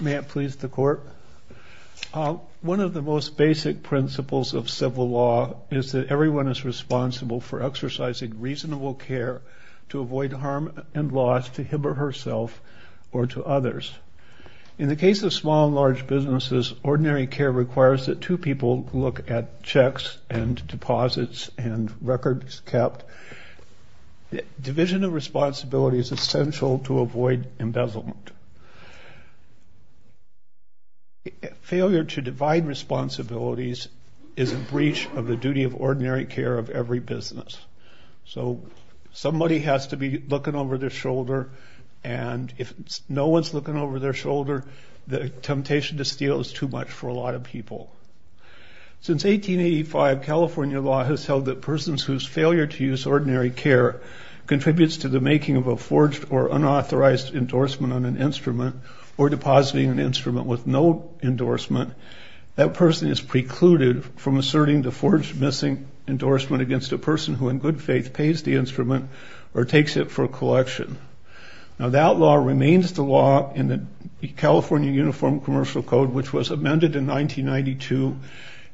May it please the Court. One of the most basic principles of civil law is that everyone is responsible for exercising reasonable care to avoid harm and loss to him or herself or to others. In the case of small and large businesses, ordinary care requires that two people look at checks and deposits and records kept. Division of responsibility is essential to avoid embezzlement. Failure to divide responsibilities is a breach of the duty of ordinary care of every business. So somebody has to be looking over their shoulder and if no one's looking over their shoulder, the temptation to steal is too much for a lot of people. Since 1885, California law has held that persons whose failure to use ordinary care contributes to the making of a forged or unauthorized endorsement on an instrument or depositing an instrument with no endorsement, that person is precluded from asserting the forged missing endorsement against a person who in good faith pays the instrument or takes it for collection. Now that law remains the law in the California Uniform Commercial Code which was amended in 1992.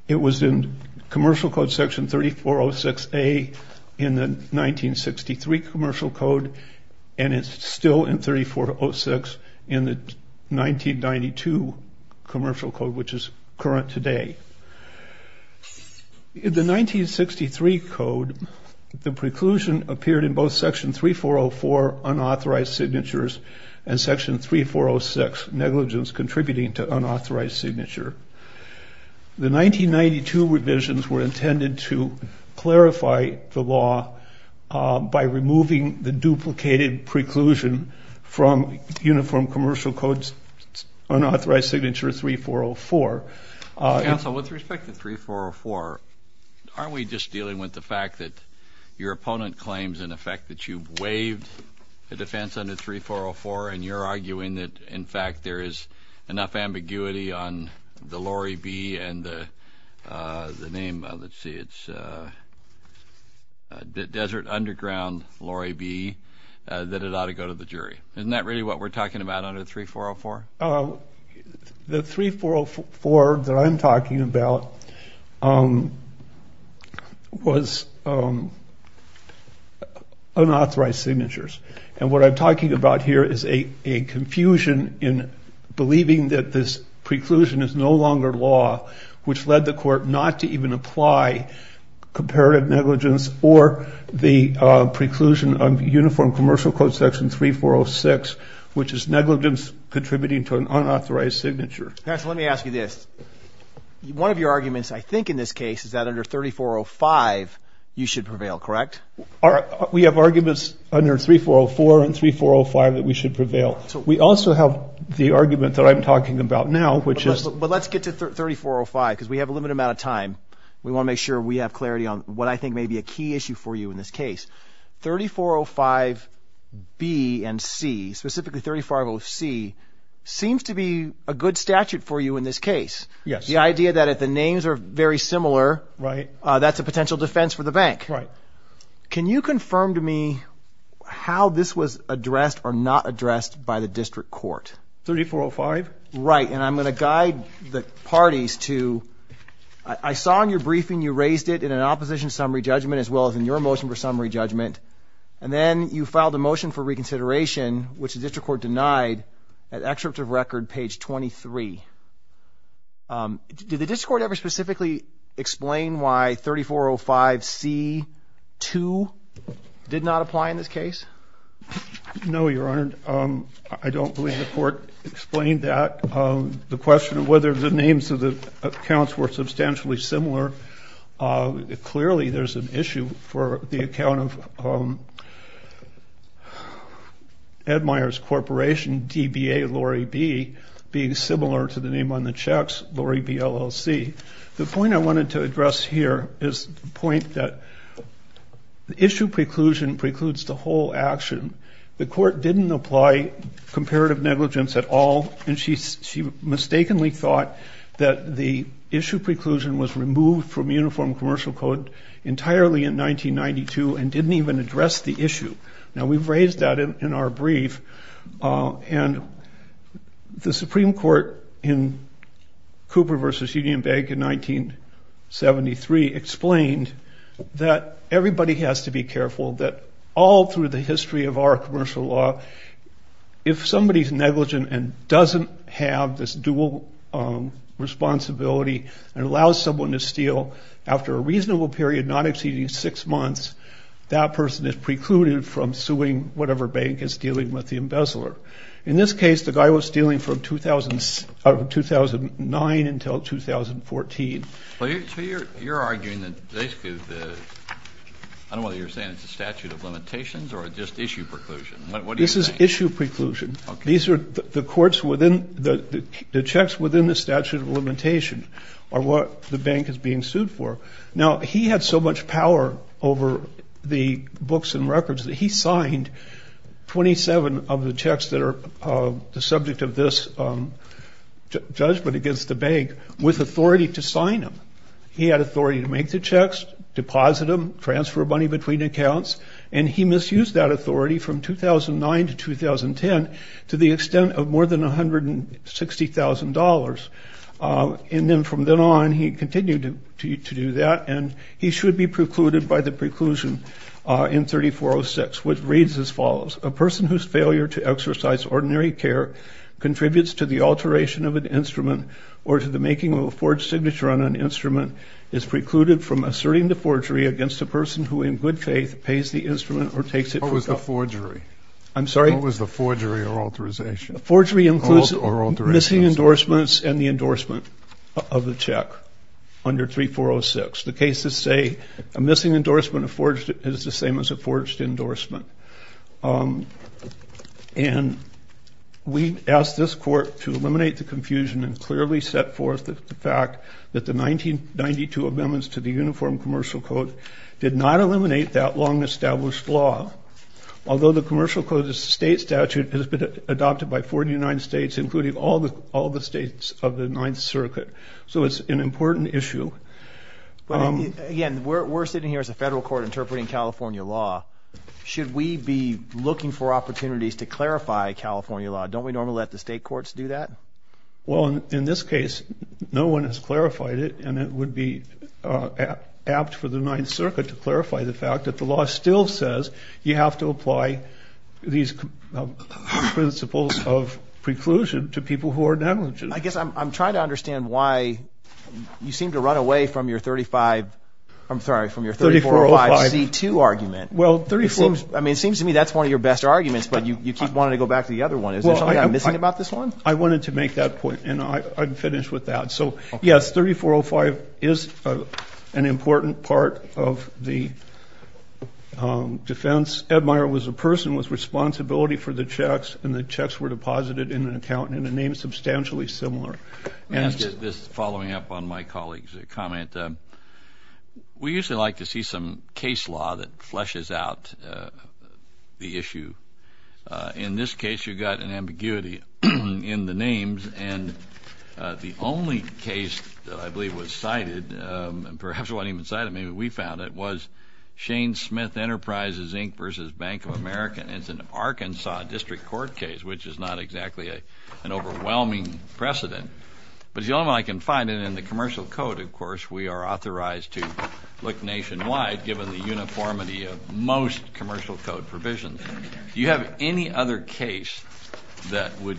It was in commercial code section 3406A in the 1963 commercial code and it's still in 3406 in the 1992 commercial code which is current today. In the 1963 code, the preclusion appeared in both section 3404 unauthorized signatures and section 3406 negligence contributing to unauthorized signature. The 1992 revisions were intended to clarify the law by removing the duplicated preclusion from Uniform Commercial Code's unauthorized signature 3404. Counsel, with respect to 3404, aren't we just dealing with the fact that your opponent claims in effect that you've waived the defense under 3404 and you're arguing that in fact there is enough ambiguity on the Lori B and the name, let's see, it's Desert Underground Lori B that it ought to go to the jury. Isn't that really what we're talking about under 3404? The 3404 that I'm talking about was unauthorized signatures and what I'm talking about here is a confusion in believing that this preclusion is no longer law which led the court not to even apply comparative negligence or the preclusion of Uniform Commercial Code section 3406 which is negligence contributing to an unauthorized signature. Counsel, let me ask you this. One of your arguments I think in this case is that under 3405 you should prevail, correct? We have arguments under 3404 and 3405 that we should prevail. We also have the argument that I'm talking about now which is... But let's get to 3405 because we have a limited amount of time. We want to make sure we have clarity on what I think may be a key issue for you in this case. 3405 B and C, specifically 350C seems to be a good statute for you in this case. The idea that if the names are very similar, that's a potential defense for the bank. Can you confirm to me how this was addressed or not addressed by the district court? 3405? Right, and I'm going to guide the parties to... I saw in your briefing you raised it in an opposition summary judgment as well as in your motion for summary judgment and then you filed a motion for reconsideration which the district court denied at excerpt of record page 23. Did the district court ever specifically explain why 3405C2 did not apply in this case? No, Your Honor. I don't believe the court explained that. The question of whether the names of the accounts were substantially similar, clearly there's an issue for the account of... As a matter of fact, the name of Edmire's corporation, DBA Lori B, being similar to the name on the checks, Lori B LLC. The point I wanted to address here is the point that the issue preclusion precludes the whole action. The court didn't apply comparative negligence at all and she mistakenly thought that the issue preclusion was removed from uniform commercial code entirely in 1992 and didn't even address the issue. Now we've raised that in our brief and the Supreme Court in Cooper v. Union Bank in 1973 explained that everybody has to be careful that all through the history of our commercial law, if somebody's negligent and doesn't have this dual responsibility and allows someone to steal after a reasonable period not exceeding six months, that person is precluded from suing whatever bank is dealing with the embezzler. In this case, the guy was stealing from 2009 until 2014. So you're arguing that basically the... I don't know whether you're saying it's a statute of limitations or just issue preclusion. What do you think? This is issue preclusion. These are the courts within... The checks within the statute of limitation are what the bank is being sued for. Now he had so much power over the books and records that he signed 27 of the checks that are the subject of this judgment against the bank with authority to sign them. He had authority to make the checks, deposit them, transfer money between accounts, and he misused that authority from 2009 to 2010 to the extent of more than $160,000. And then from then on, he continued to do that, and he should be precluded by the preclusion in 3406, which reads as follows. A person whose failure to exercise ordinary care contributes to the alteration of an instrument or to the making of a forged signature on an instrument is precluded from asserting the forgery against a person who in good faith pays the instrument or takes it for... What was the forgery? I'm sorry? What was the forgery or alterization? Forgery includes missing endorsements and the endorsement of the check under 3406. The cases say a missing endorsement of forged is the same as a forged endorsement. And we asked this court to eliminate the confusion and clearly set forth the fact that the 1992 amendments to the Uniform Commercial Code did not eliminate that long-established law. Although the Commercial Code, the state statute, has been adopted by 49 states, including all the states of the Ninth Circuit. So it's an important issue. But again, we're sitting here as a federal court interpreting California law. Should we be looking for opportunities to clarify California law? Don't we normally let the state courts do that? Well, in this case, no one has clarified it, and it would be apt for the Ninth Circuit to clarify the fact that the law still says you have to apply these principles of preclusion to people who are negligent. I guess I'm trying to understand why you seem to run away from your 3405C2 argument. It seems to me that's one of your best arguments, but you keep wanting to go back to the other one. Is there something I'm missing about this one? I wanted to make that point, and I'm finished with that. So yes, 3405 is an important part of the defense. Ed Meyer was a person with responsibility for the checks, and the checks were deposited in an account in a name substantially similar. Let me ask you this following up on my colleague's comment. We usually like to see some case law that fleshes out the issue. In this case, you've got an ambiguity in the names, and the only case that I believe was cited, and perhaps it wasn't even cited, maybe we found it, was Shane Smith Enterprises, Inc. v. Bank of America, and it's an Arkansas District Court case, which is not exactly an overwhelming precedent. But the only way I can find it in the commercial code, of course, we are authorized to look nationwide, given the uniformity of most commercial code provisions. Do you have any other case that would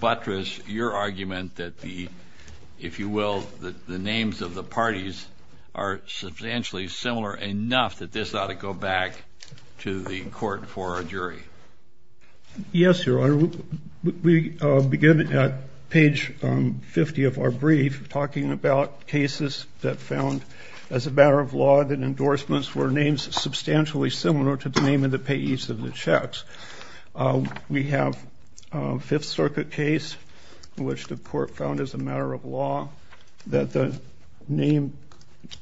buttress your argument that the, if you will, the names of the parties are substantially similar enough that this ought to go back to the court for a jury? Yes, Your Honor. We begin at page 50 of our brief talking about cases that found, as a matter of law, that endorsements were names substantially similar to the name of the payees of the checks. We have a Fifth Circuit case in which the court found, as a matter of law, that the name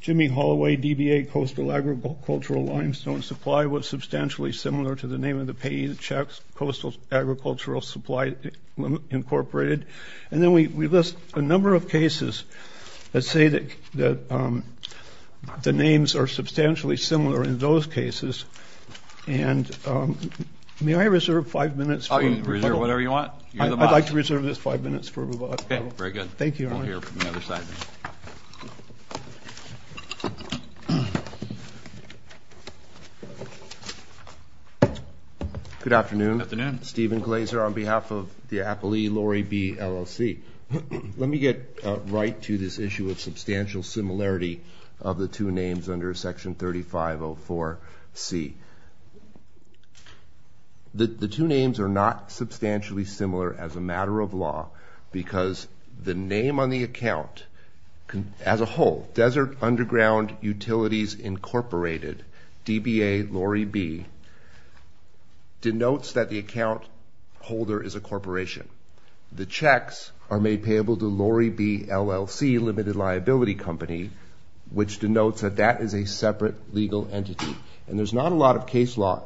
Jimmy Holloway, DBA, Coastal Agricultural Limestone Supply, was substantially similar to the name of the payee of the checks, Coastal Agricultural Supply, Incorporated. And then we list a number of cases that say that the names are substantially similar in those cases. And may I reserve five minutes for rebuttal? Oh, you can reserve whatever you want. You're the boss. I'd like to reserve this five minutes for rebuttal. Okay. Very good. Thank you, Your Honor. We'll hear from the other side then. Good afternoon. Good afternoon. Stephen Glazer on behalf of the appellee, Lori B. LLC. Let me get right to this issue of substantial similarity of the two names under Section 3504C. The two names are not substantially similar, as a matter of law, because the name on the account, as a whole, Desert Underground Utilities, Incorporated, DBA, Lori B., denotes that the account holder is a corporation. The checks are made payable to Lori B., LLC, Limited Liability Company, which denotes that that is a separate legal entity. And there's not a lot of case law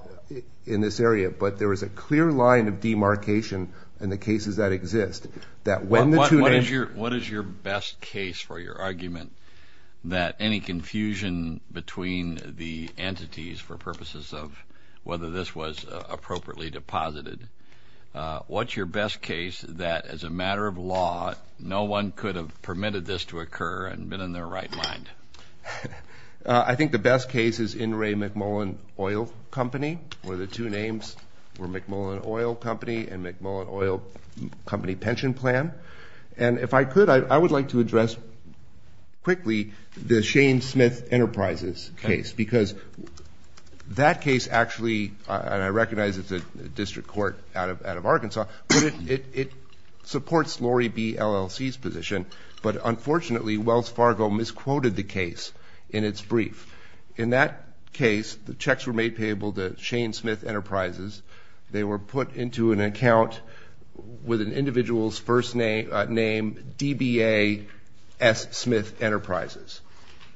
in this area, but there is a clear line of demarcation in the cases that exist that when the two names... What is your best case for your argument that any confusion between the entities for purposes of whether this was appropriately deposited, what's your best case that, as a matter of law, no one could have permitted this to occur and been in their right mind? I think the best case is In re McMullen Oil Company, where the two names were McMullen Oil Company and McMullen Oil Company Pension Plan. And if I could, I would like to address quickly the Shane Smith Enterprises case, because that case actually, and I recognize it's a district court out of Arkansas, but it supports Lori B., LLC's position, but unfortunately Wells Fargo misquoted the case in its brief. In that case, the checks were made payable to Shane Smith Enterprises. They were put into an account with an individual's first name, DBA S. Smith Enterprises.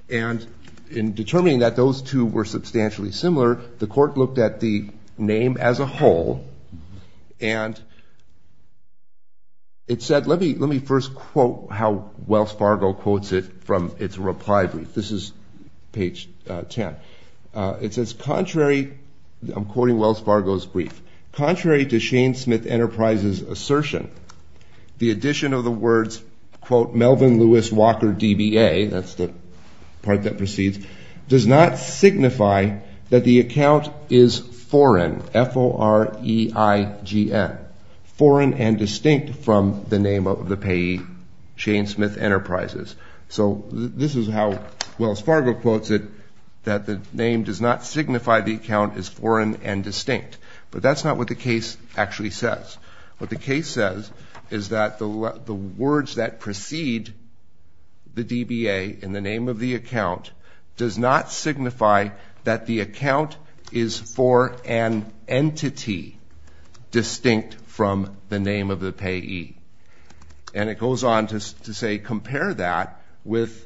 And in determining that those two were substantially similar, the court looked at the name as a whole, and it said... Let me first quote how Wells Fargo quotes it from its reply brief. This is page 10. It says, contrary... I'm quoting Wells Fargo. In addition of the words, quote, Melvin Lewis Walker DBA, that's the part that proceeds, does not signify that the account is foreign, F-O-R-E-I-G-N, foreign and distinct from the name of the payee, Shane Smith Enterprises. So this is how Wells Fargo quotes it, that the name does not signify the account is foreign and distinct. But that's not what the case actually says. What the case says is that the words that precede the DBA in the name of the account does not signify that the account is for an entity distinct from the name of the payee. And it goes on to say, compare that with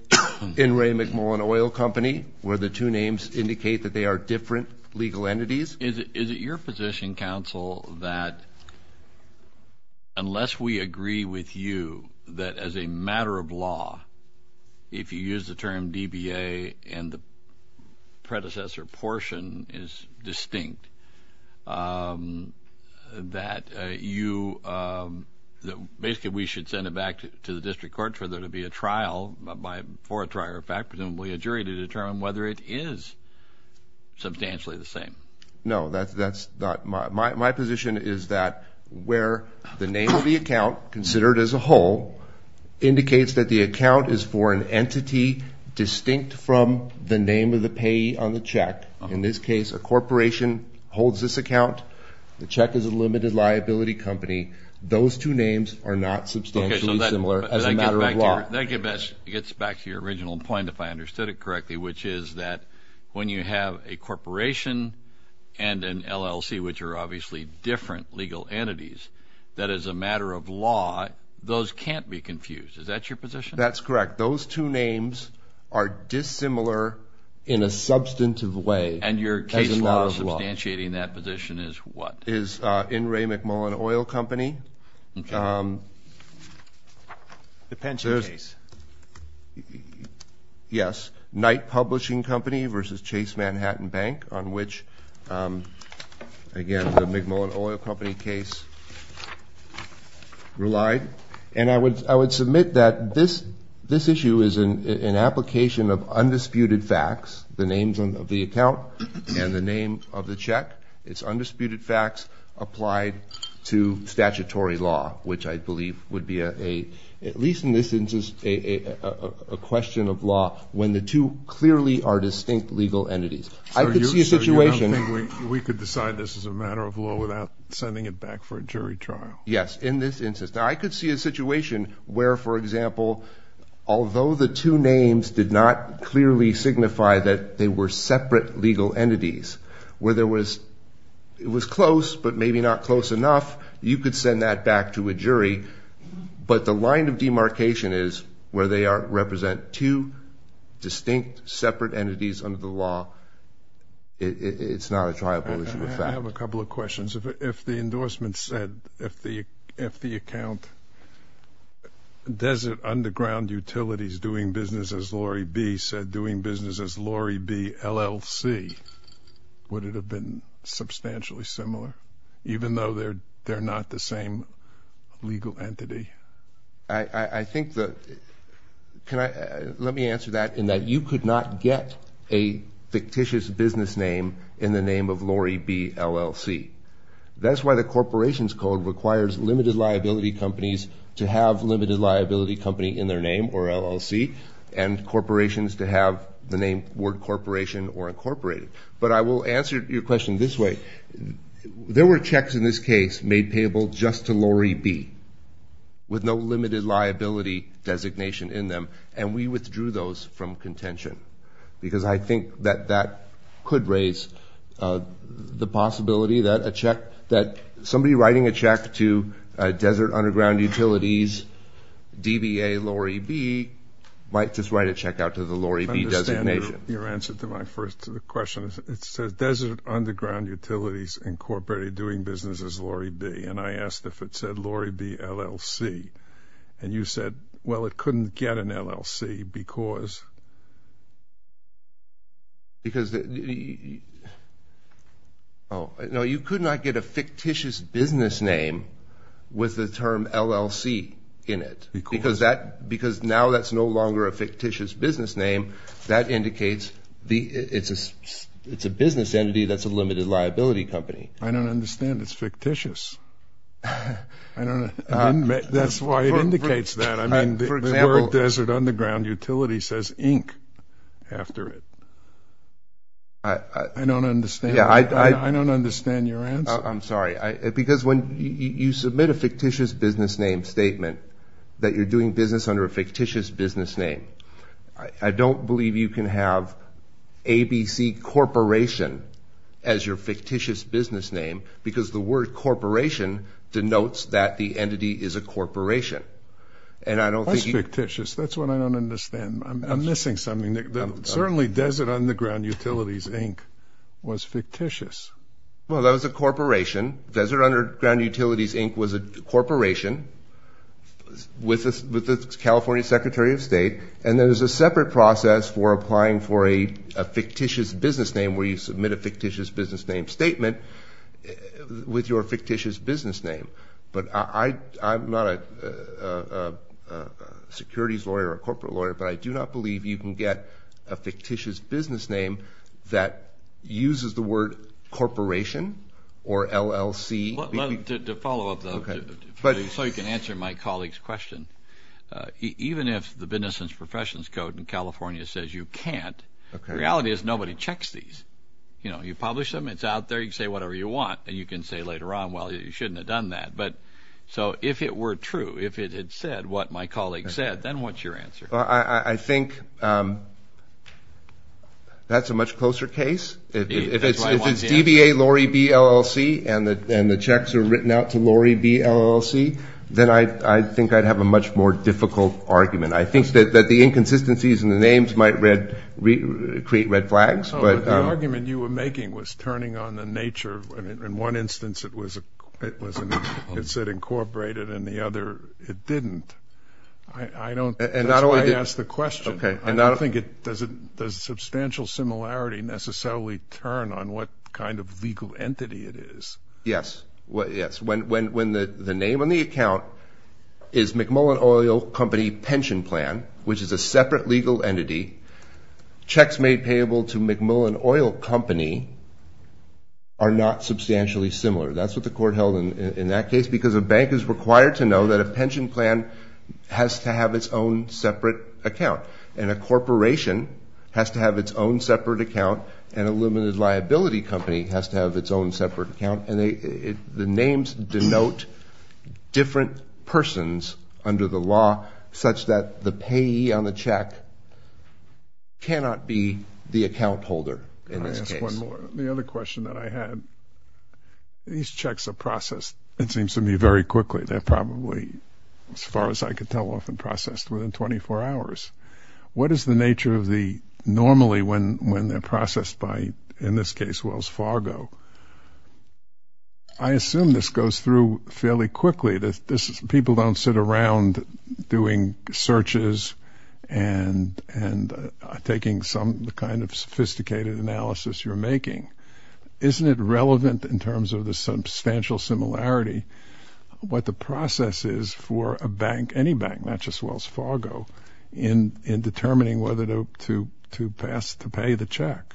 in Ray McMullen Oil Company, where the two names indicate that they are different legal entities. Is it your position, counsel, that unless we agree with you that as a matter of law, if you use the term DBA and the predecessor portion is distinct, that you... Basically we should send it back to the district court for there to be a trial, for a trial, in fact, presumably a jury to determine whether it is substantially the same. No, my position is that where the name of the account, considered as a whole, indicates that the account is foreign entity distinct from the name of the payee on the check. In this case, a corporation holds this account. The check is a limited liability company. Those two names are not substantially similar as a matter of law. That gets back to your original point, if I understood it correctly, which is that when you have a corporation and an LLC, which are obviously different legal entities, that as a matter of law, those can't be confused. Is that your position? That's correct. Those two names are dissimilar in a substantive way. And your case law substantiating that position is what? Is in Ray McMullen Oil Company. Okay. The pension case. Yes. Knight Publishing Company versus Chase Manhattan Bank, on which again, the McMullen Oil Company case relied. And I would submit that this issue is an application of undisputed facts, the names of the account and the name of the check. It's undisputed facts applied to statutory law, which I believe would be a, at least in this instance, a question of law when the two clearly are distinct legal entities. I could see a situation. We could decide this as a matter of law without sending it back for a jury trial. Yes. In this instance. I could see a situation where, for example, although the two names did not clearly signify that they were separate legal entities, where there was, it was close, but maybe not close enough, you could send that back to a jury. But the line of demarcation is where they are, represent two distinct separate entities under the law. It's not a triable issue of fact. I have a couple of questions. If the endorsement said, if the account, Desert Underground Utilities doing business as Lorry B. said doing business as Lorry B. LLC, would it have been substantially similar, even though they're not the same legal entity? I think the, can I, let me answer that in that you could not get a fictitious business name in the name of Lorry B. LLC. That's why the corporations code requires limited liability companies to have limited liability company in their name, or LLC, and corporations to have the name, word corporation, or incorporated. But I will answer your question this way. There were checks in this case made payable just to Lorry B., with no limited liability designation in them, and we withdrew those from contention. Because I think that that could raise the possibility that a check that somebody writing a check to Desert Underground Utilities, DBA, Lorry B., might just write a check out to the Lorry B. designation. I understand your answer to my first question. It says Desert Underground Utilities Incorporated doing business as Lorry B., and I asked if it said Lorry B. LLC, and you said, well, it couldn't get an LLC because? Because, oh, no, you could not get a fictitious business name with the term LLC in it, because now that's no longer a fictitious business name. That indicates it's a business entity that's a limited liability company. I don't understand. It's fictitious. That's why it says Inc. after it. I don't understand. I don't understand your answer. I'm sorry. Because when you submit a fictitious business name statement that you're doing business under a fictitious business name, I don't believe you can have ABC Corporation as your fictitious business name, because the word corporation denotes that the entity is a corporation. That's fictitious. That's what I don't understand. I'm missing something. Certainly Desert Underground Utilities Inc. was fictitious. Well, that was a corporation. Desert Underground Utilities Inc. was a corporation with the California Secretary of State, and there was a separate process for applying for a fictitious business name where you submit a fictitious business name statement with your fictitious business name. But I'm not a securities lawyer or a corporate lawyer, but I do not believe you can get a fictitious business name that uses the word corporation or LLC. To follow up, though, so you can answer my colleague's question, even if the Business and Professions Code in California says you can't, the reality is nobody checks these. You know, you publish them, it's out there, you can say whatever you want, and you can say later on, well, you shouldn't have done that. But so if it were true, if it had said what my colleague said, then what's your answer? Well, I think that's a much closer case. If it's DBA, Lori B, LLC, and the checks are written out to Lori B, LLC, then I think I'd have a much more difficult argument. I think that the argument you were making was turning on the nature. In one instance, it said incorporated, in the other, it didn't. That's why I asked the question. I don't think it does a substantial similarity necessarily turn on what kind of legal entity it is. Yes, yes. When the name on the account is McMullen Oil Company Pension Plan, which is a separate legal entity, checks made payable to McMullen Oil Company are not substantially similar. That's what the court held in that case, because a bank is required to know that a pension plan has to have its own separate account, and a corporation has to have its own separate account, and a limited liability company has to have its own separate account. And the names denote different persons under the law such that the payee on the check cannot be the account holder in this case. Can I ask one more? The other question that I had, these checks are processed, it seems to me, very quickly. They're probably, as far as I can tell, often processed within 24 hours. What is the nature of the normally when they're processed by, in this case, Wells Fargo? I assume this goes through fairly quickly. People don't sit around doing searches and taking some kind of sophisticated analysis you're making. Isn't it relevant in terms of the substantial similarity what the process is for a bank, any bank, not just Wells Fargo, in determining whether to pass, to pay the check?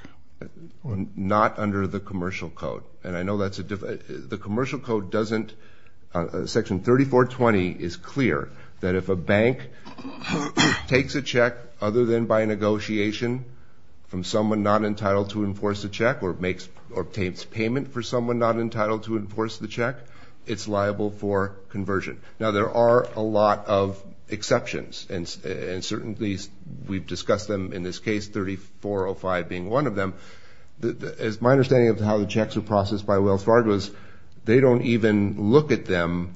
Not under the commercial code. And I know that's a, the commercial code doesn't, Section 3420 is clear that if a bank takes a check other than by negotiation from someone not entitled to enforce the check or obtains payment for someone not entitled to enforce the check, it's liable for conversion. Now there are a lot of exceptions, and certainly we've discussed them in this case, 3405 being one of them. My understanding of how the checks are processed by Wells Fargo is they don't even look at them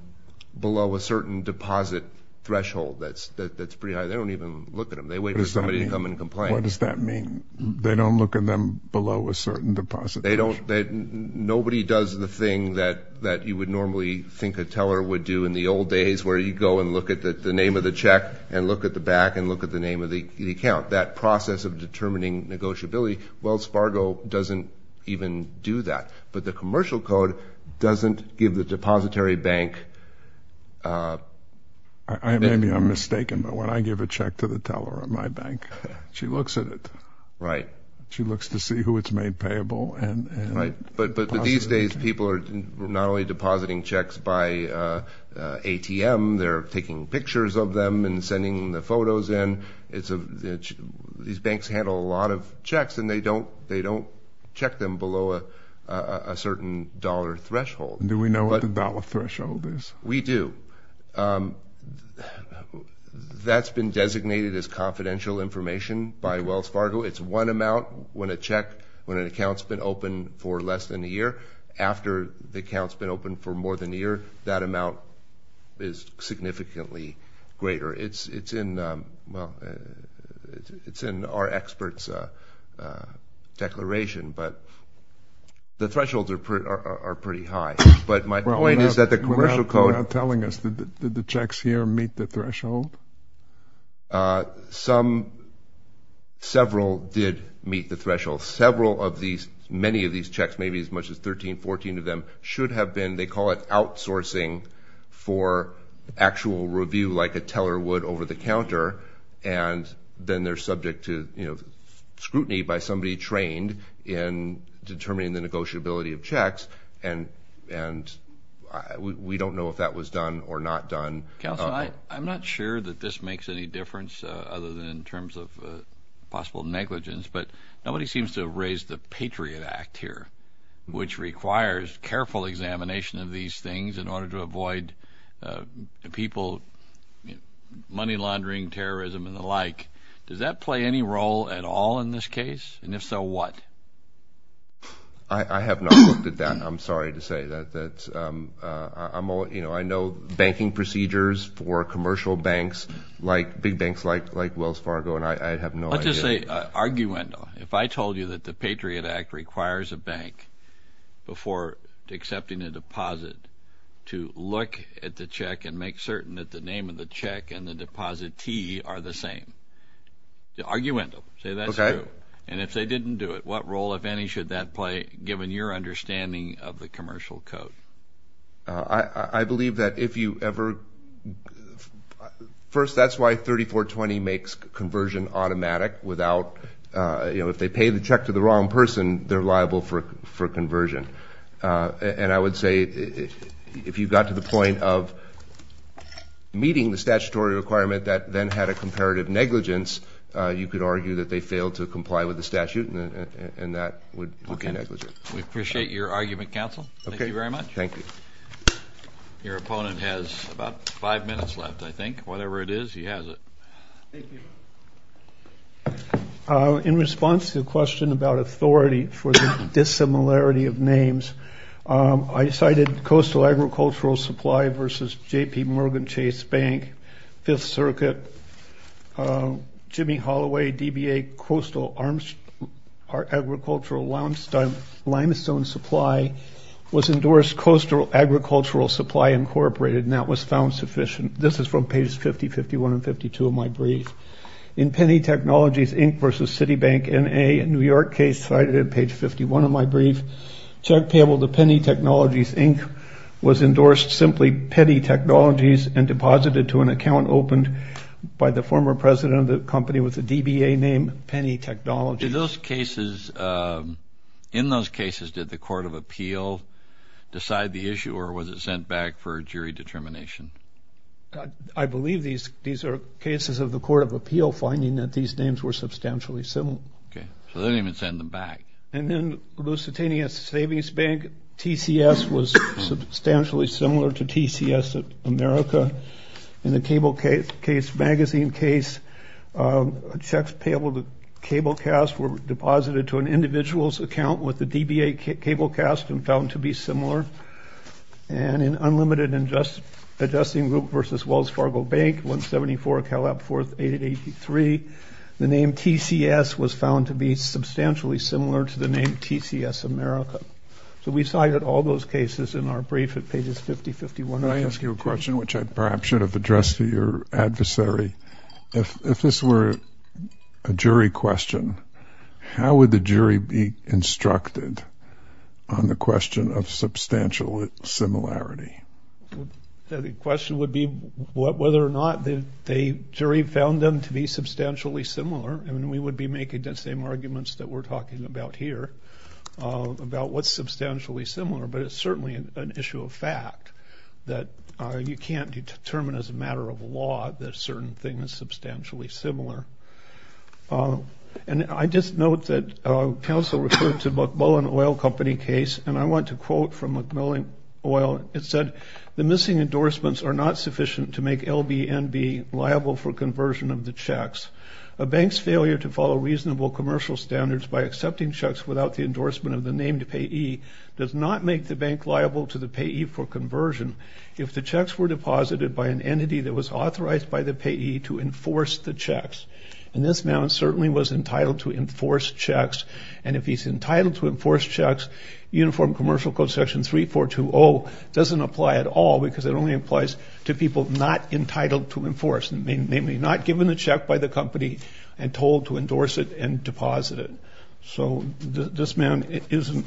below a certain deposit threshold that's pretty high. They don't even look at them. They wait for somebody to come and complain. What does that mean? They don't look at them below a certain deposit threshold? They don't, nobody does the thing that you would normally think a teller would do in the old days where you'd go and look at the name of the check and look at the back and look at the name of the account. That process of determining negotiability, Wells Fargo doesn't even do that. But the commercial code doesn't give the depository bank... Maybe I'm mistaken, but when I give a check to the teller at my bank, she looks at it. Right. She looks to see who it's made payable and... But these days people are not only depositing checks by ATM, they're taking pictures of them and sending the photos in. These banks handle a lot of checks and they don't check them below a certain dollar threshold. Do we know what the dollar threshold is? We do. That's been designated as confidential information by Wells Fargo. It's one amount when a check, when an account's been opened for less than a year. After the account's been opened for more than a year, that amount is significantly greater. It's in our expert's declaration, but the thresholds are pretty high. But my point is that the commercial code... You're not telling us, did the checks here meet the threshold? Some, several did meet the threshold. Several of these, many of these checks, maybe as much as 13, 14 of them should have been, they call it outsourcing for actual review, like a teller would over the counter. And then they're subject to scrutiny by somebody trained in determining the negotiability of checks. And we don't know if that was done or not done. I'm not sure that this makes any difference other than in terms of possible negligence, but nobody seems to have raised the Patriot Act here, which requires careful examination of these things in order to avoid people, money laundering, terrorism, and the like. Does that play any role at all in this case? And if so, what? I have not looked at that. I'm sorry to say that. I know banking procedures for commercial banks, like big banks like Wells Fargo, and I have no idea. Let's just say, arguendo. If I told you that the Patriot Act requires a bank, before accepting a deposit, to look at the check and make certain that the name of the check and role, if any, should that play, given your understanding of the commercial code? I believe that if you ever, first, that's why 3420 makes conversion automatic without, you know, if they pay the check to the wrong person, they're liable for conversion. And I would say, if you got to the point of meeting the statutory requirement that then had a and that would be negligent. We appreciate your argument, counsel. Thank you very much. Thank you. Your opponent has about five minutes left, I think. Whatever it is, he has it. Thank you. In response to the question about authority for the dissimilarity of names, I cited Coastal Agricultural Supply versus JPMorgan Chase Bank, Fifth Circuit, Jimmy Holloway, DBA Coastal Agricultural Limestone Supply was endorsed Coastal Agricultural Supply, Incorporated, and that was found sufficient. This is from pages 50, 51, and 52 of my brief. In Penny Technologies, Inc. versus Citibank, N.A., a New York case cited in page 51 of my brief, Chuck Pavel to Penny Technologies, Inc. was endorsed simply Penny Technologies and deposited to an account opened by the former president of the company with the DBA name Penny Technologies. In those cases, did the Court of Appeal decide the issue or was it sent back for jury determination? I believe these are cases of the Court of Appeal finding that these names were substantially similar. Okay. So they didn't even send them back. And then Lusitania Savings Bank, TCS, was substantially similar to TCS of America. In the Cablecase Magazine case, Chuck Pavel to Cablecast were deposited to an individual's account with the DBA Cablecast and found to be similar. And in Unlimited Adjusting Group versus Wells Fargo Bank, 174 Calab Fourth, 883, the name TCS was found to be substantially similar to the name TCS America. So we cited all those cases in our brief at pages 50, 51, and 52. Can I ask you a question which I perhaps should have addressed to your adversary? If this were a jury question, how would the jury be instructed on the question of substantial similarity? The question would be whether or not the jury found them to be substantially similar. And we would be making the same arguments that we're talking about here about what's substantially similar. But it's certainly an issue of fact that you can't determine as a matter of law that a certain thing is substantially similar. And I just note that counsel referred to the McMillan Oil Company case. And I want to quote from McMillan Oil. It said, the missing endorsements are not sufficient to make LBNB liable for conversion of the checks. A bank's failure to follow reasonable commercial standards by accepting checks without the endorsement of the named payee does not make the bank liable to the payee for conversion. If the checks were deposited by an entity that was authorized by the payee to enforce the checks. And this man certainly was entitled to enforce checks. And if he's entitled to enforce checks, Uniform Commercial Code section 3420 doesn't apply at all. Because it only applies to people not entitled to enforce. Namely, not given a check by the company and told to endorse it and deposit it. So this man isn't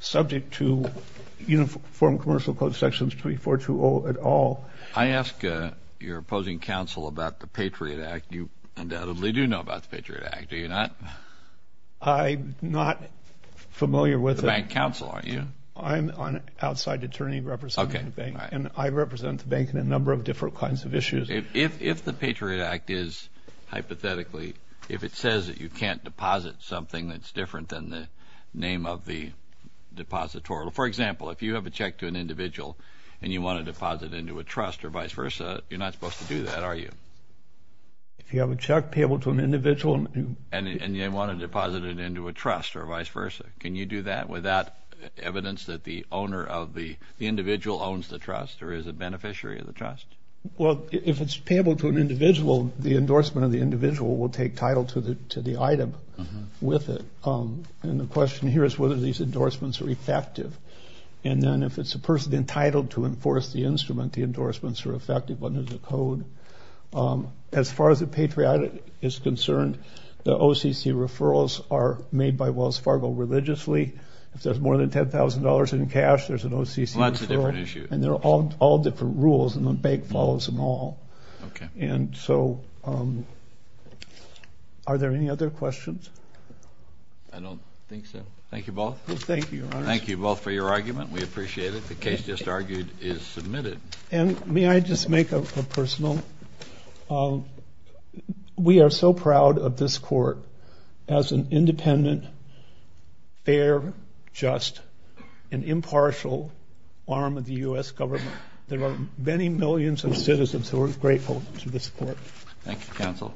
subject to Uniform Commercial Code sections 3420 at all. I ask your opposing counsel about the Patriot Act. You undoubtedly do know about the Patriot Act, do you not? I'm not familiar with it. The bank counsel, aren't you? I'm an outside attorney representing the bank. And I represent the bank in a number of different kinds of issues. If the Patriot Act is, hypothetically, if it says that you can't deposit something that's different than the name of the depositorial. For example, if you have a check to an individual and you want to deposit it into a trust or vice versa, you're not supposed to do that, are you? If you have a check payable to an individual. And you want to deposit it into a trust or vice versa. Can you do that without evidence that the owner of the individual owns the trust or is a beneficiary of the trust? Well, if it's payable to an individual, the endorsement of the individual will take title to the item with it. And the question here is whether these endorsements are effective. And then if it's a person entitled to enforce the instrument, the endorsements are effective under the code. As far as the Patriot Act is concerned, the OCC referrals are made by Wells Fargo religiously. If there's more than $10,000 in cash, there's an OCC referral. Lots of different issues. And they're all different rules and the bank follows them all. And so are there any other questions? I don't think so. Thank you both. Thank you, Your Honor. Thank you both for your argument. We appreciate it. The case just argued is submitted. And may I just make a personal? We are so proud of this court as an independent, fair, just, and impartial arm of the US government. There are many millions of citizens who are grateful to this court. Thank you, counsel.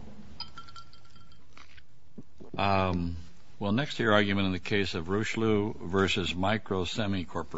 Well, next to your argument in the case of Rooshloo versus Micro Semi Corporation.